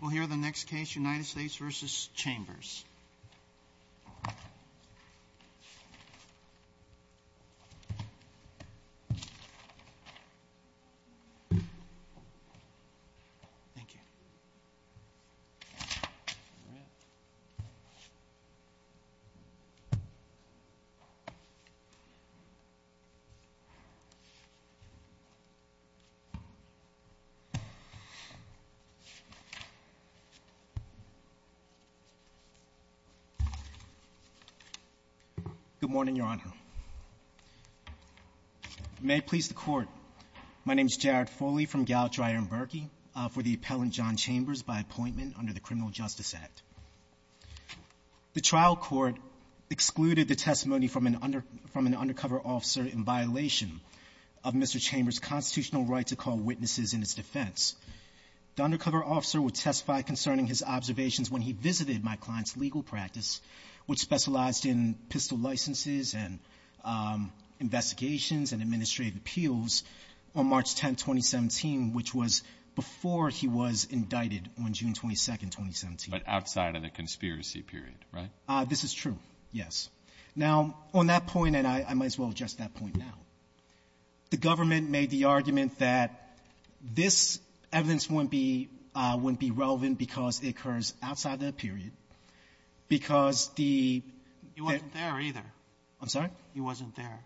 We'll hear the next case, United States v. Chambers. Good morning, Your Honor. May it please the Court, my name is Jared Foley from Gallup-Dryer-Berkey for the appellant John Chambers by appointment under the Criminal Justice Act. The trial court excluded the testimony from an undercover officer in violation of Mr. Chambers' constitutional right to call witnesses in its defense. The undercover officer would testify concerning his observations when he visited my client's legal practice, which specialized in pistol licenses and investigations and administrative appeals, on March 10, 2017, which was before he was indicted on June 22, 2017. But outside of the conspiracy period, right? This is true, yes. Now, on that point, and I might as well address that point now, the government made the argument that this evidence wouldn't be relevant because it occurs outside the period, because the — You weren't there, either. I'm sorry? You wasn't there.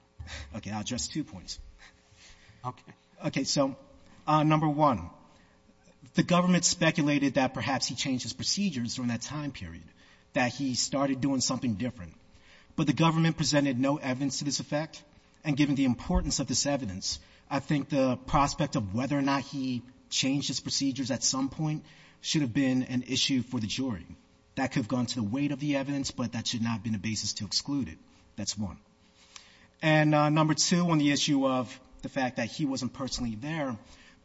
Okay. I'll address two points. Okay. Okay. So, number one, the government speculated that perhaps he changed his procedures during that time period, that he started doing something different. But the government presented no evidence to this effect. And given the importance of this evidence, I think the prospect of whether or not he changed his procedures at some point should have been an issue for the jury. That could have gone to the weight of the evidence, but that should not have been a basis to exclude it. That's one. And number two, on the issue of the fact that he wasn't personally there,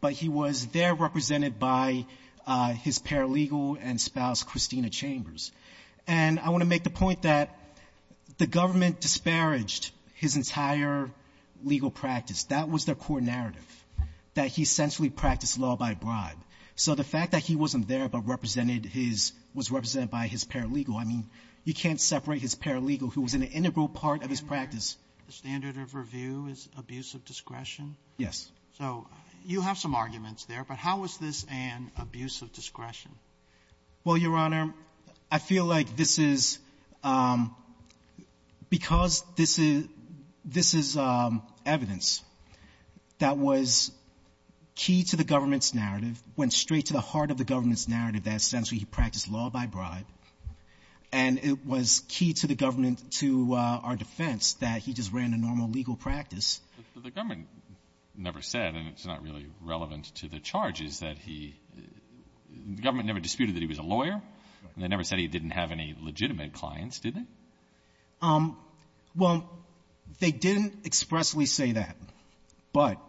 but he was there represented by his paralegal and spouse, Christina Chambers. And I want to make the point that the government disparaged his entire legal practice. That was their core narrative, that he essentially practiced law by bribe. So the fact that he wasn't there but represented his — was represented by his paralegal, I mean, you can't separate his paralegal, who was an integral part of his practice. The standard of review is abuse of discretion? Yes. So you have some arguments there, but how is this an abuse of discretion? Well, Your Honor, I feel like this is — because this is — this is evidence that was key to the government's narrative, went straight to the heart of the government's narrative, that essentially he practiced law by bribe, and it was key to the government, to our defense, that he just ran a normal legal practice. The government never said, and it's not really relevant to the charges, that he — the government never disputed that he was a lawyer, and they never said he didn't have any legitimate clients, did they? Well, they didn't expressly say that. But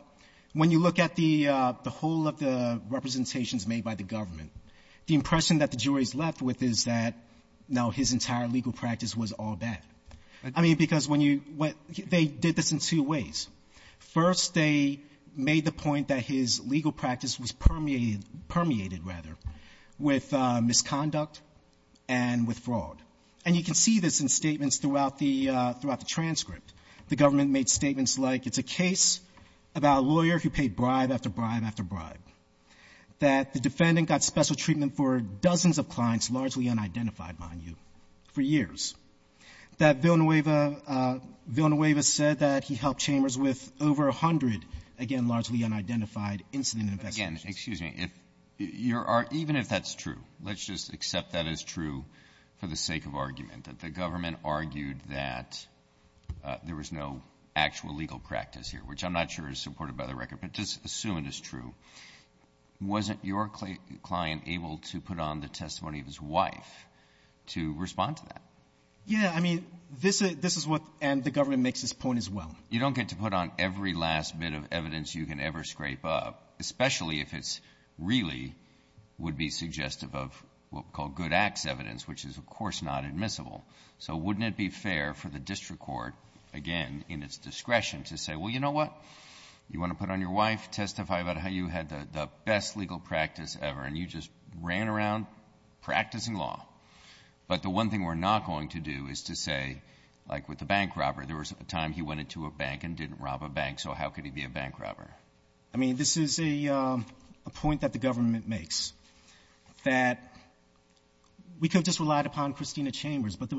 when you look at the whole of the representations made by the government, the impression that the juries left with is that, no, his entire legal practice was all bad. I mean, because when you — they did this in two ways. First, they made the point that his legal practice was permeated — permeated, rather, with misconduct and with fraud. And you can see this in statements throughout the — throughout the transcript. The government made statements like it's a case about a lawyer who paid bribe after bribe after bribe, that the defendant got special treatment for dozens of clients, largely unidentified, mind you, for years, that Villanueva said that he helped Chambers with over 100, again, largely unidentified, incident investigations. Again, excuse me. If your — even if that's true, let's just accept that as true for the sake of argument, that the government argued that there was no actual legal practice here, which I'm not sure is supported by the record, but just assume it is true. Wasn't your client able to put on the testimony of his wife to respond to that? Yeah. I mean, this is what — and the government makes this point as well. You don't get to put on every last bit of evidence you can ever scrape up, especially if it's really would-be suggestive of what we call good acts evidence, which is, of course, not admissible. So wouldn't it be fair for the district court, again, in its discretion, to say, well, you know what? You want to put on your wife, testify about how you had the best legal practice ever, and you just ran around practicing law, but the one thing we're not going to do is to say, like with the bank robber, there was a time he went into a bank and didn't rob a bank, so how could he be a bank robber? I mean, this is a point that the government makes, that we could have just relied upon Christina Chambers, but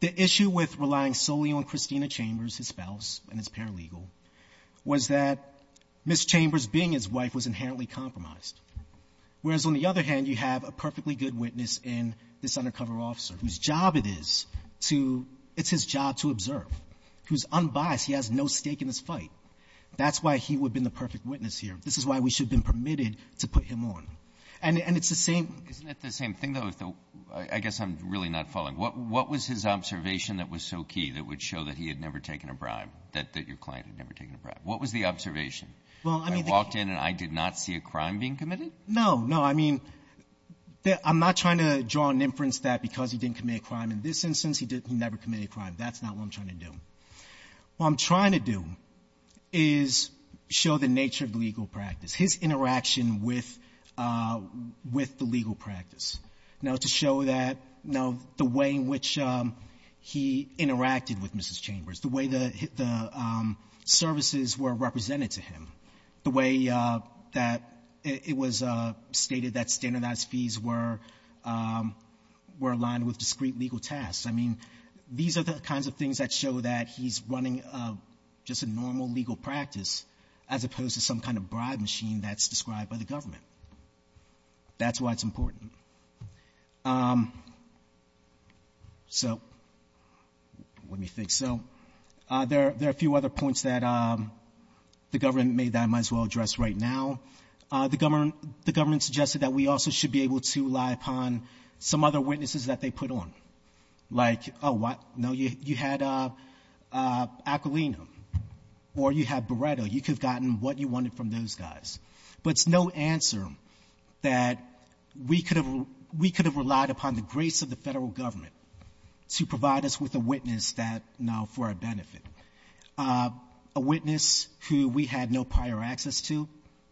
the issue with relying solely on Christina Chambers, his spouse, and his paralegal, was that Ms. Chambers being his wife was inherently compromised, whereas on the other hand, you have a perfectly good witness in this undercover officer, whose job it is to – it's his job to observe. He's unbiased. He has no stake in this fight. That's why he would have been the perfect witness here. This is why we should have been permitted to put him on. And it's the same – Isn't it the same thing, though? I guess I'm really not following. What was his observation that was so key that would show that he had never taken a bribe, that your client had never taken a bribe? What was the observation? I walked in and I did not see a crime being committed? No. No. I mean, I'm not trying to draw an inference that because he didn't commit a crime in this instance, he never committed a crime. That's not what I'm trying to do. What I'm trying to do is show the nature of the legal practice, his interaction with the legal practice. Now, to show that, you know, the way in which he interacted with Mrs. Chambers, the way the services were represented to him, the way that it was stated that standardized fees were aligned with discrete legal tasks. I mean, these are the kinds of things that show that he's running just a normal legal practice as opposed to some kind of bribe machine that's described by the government. That's why it's important. So let me think. So there are a few other points that the government made that I might as well address right now. The government suggested that we also should be able to rely upon some other witnesses that they put on. Like, oh, what? No, you had Aquilino or you had Beretta. You could have gotten what you wanted from those guys. But it's no answer that we could have relied upon the grace of the federal government to provide us with a witness that now for our benefit. A witness who we had no prior access to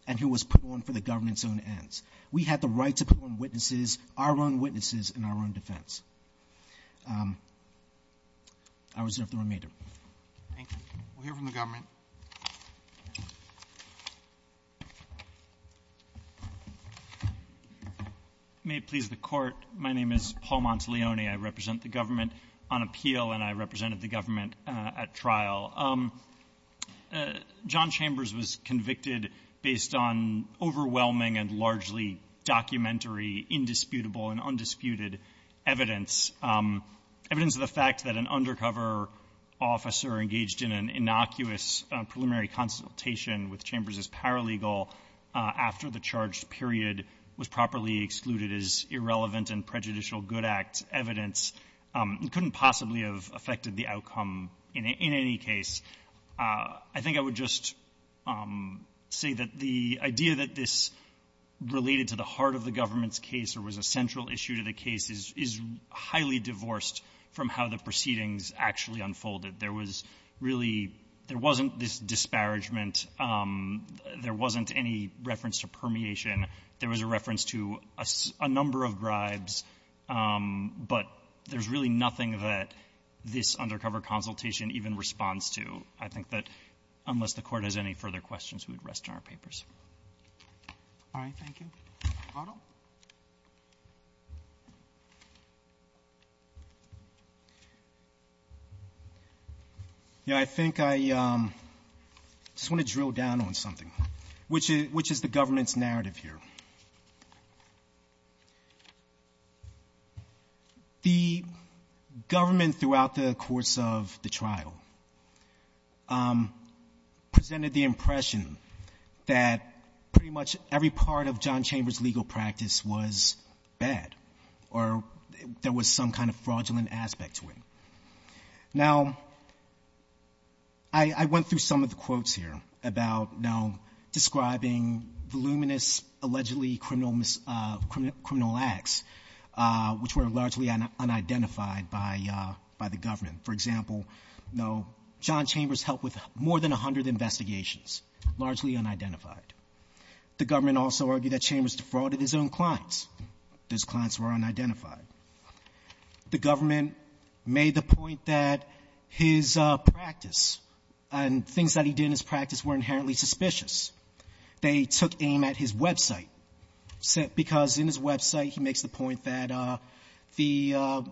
and who was put on for the government's own ends. We had the right to put on witnesses, our own witnesses in our own defense. I reserve the remainder. Thank you. We'll hear from the government. May it please the court. My name is Paul Monteleone. I represent the government on appeal and I represented the government at trial. John Chambers was convicted based on overwhelming and largely documentary, indisputable, and undisputed evidence. Evidence of the fact that an undercover officer engaged in an innocuous preliminary consultation with Chambers as paralegal after the charged period was properly excluded as irrelevant and prejudicial good act evidence. It couldn't possibly have affected the outcome in any case. I think I would just say that the idea that this related to the heart of the case is highly divorced from how the proceedings actually unfolded. There was really — there wasn't this disparagement. There wasn't any reference to permeation. There was a reference to a number of bribes, but there's really nothing that this undercover consultation even responds to. I think that unless the Court has any further questions, we would rest in our papers. All right. Thank you. Otto? Yeah. I think I just want to drill down on something, which is the government's narrative here. The government throughout the course of the trial presented the impression that pretty much every part of John Chambers' legal practice was bad or there was some kind of fraudulent aspect to it. Now, I went through some of the quotes here about describing voluminous allegedly criminal acts, which were largely unidentified by the government. For example, John Chambers helped with more than 100 investigations, largely unidentified. The government also argued that Chambers defrauded his own clients. Those clients were unidentified. The government made the point that his practice and things that he did in his practice were inherently suspicious. They took aim at his website because in his website, he makes the point that the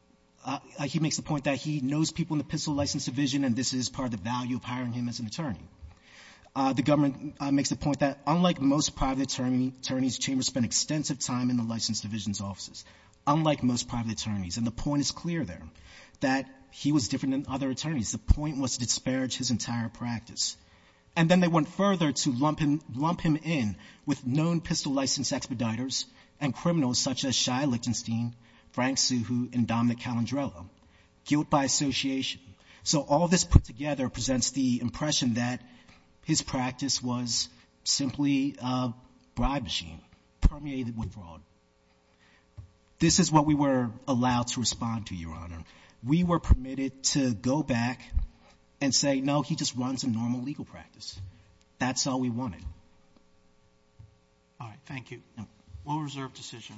— he makes the point that he knows people in the pencil license division, and this is part of the value of hiring him as an attorney. The government makes the point that, unlike most private attorneys, Chambers spent extensive time in the license division's offices, unlike most private attorneys. And the point is clear there, that he was different than other attorneys. The point was to disparage his entire practice. And then they went further to lump him in with known pistol license expediters and criminals such as Shia Lichtenstein, Frank Suhu, and Dominic Calandrello. Guilt by association. So all this put together presents the impression that his practice was simply a bribe machine permeated with fraud. This is what we were allowed to respond to, Your Honor. We were permitted to go back and say, no, he just runs a normal legal practice. That's all we wanted. All right. Thank you. No.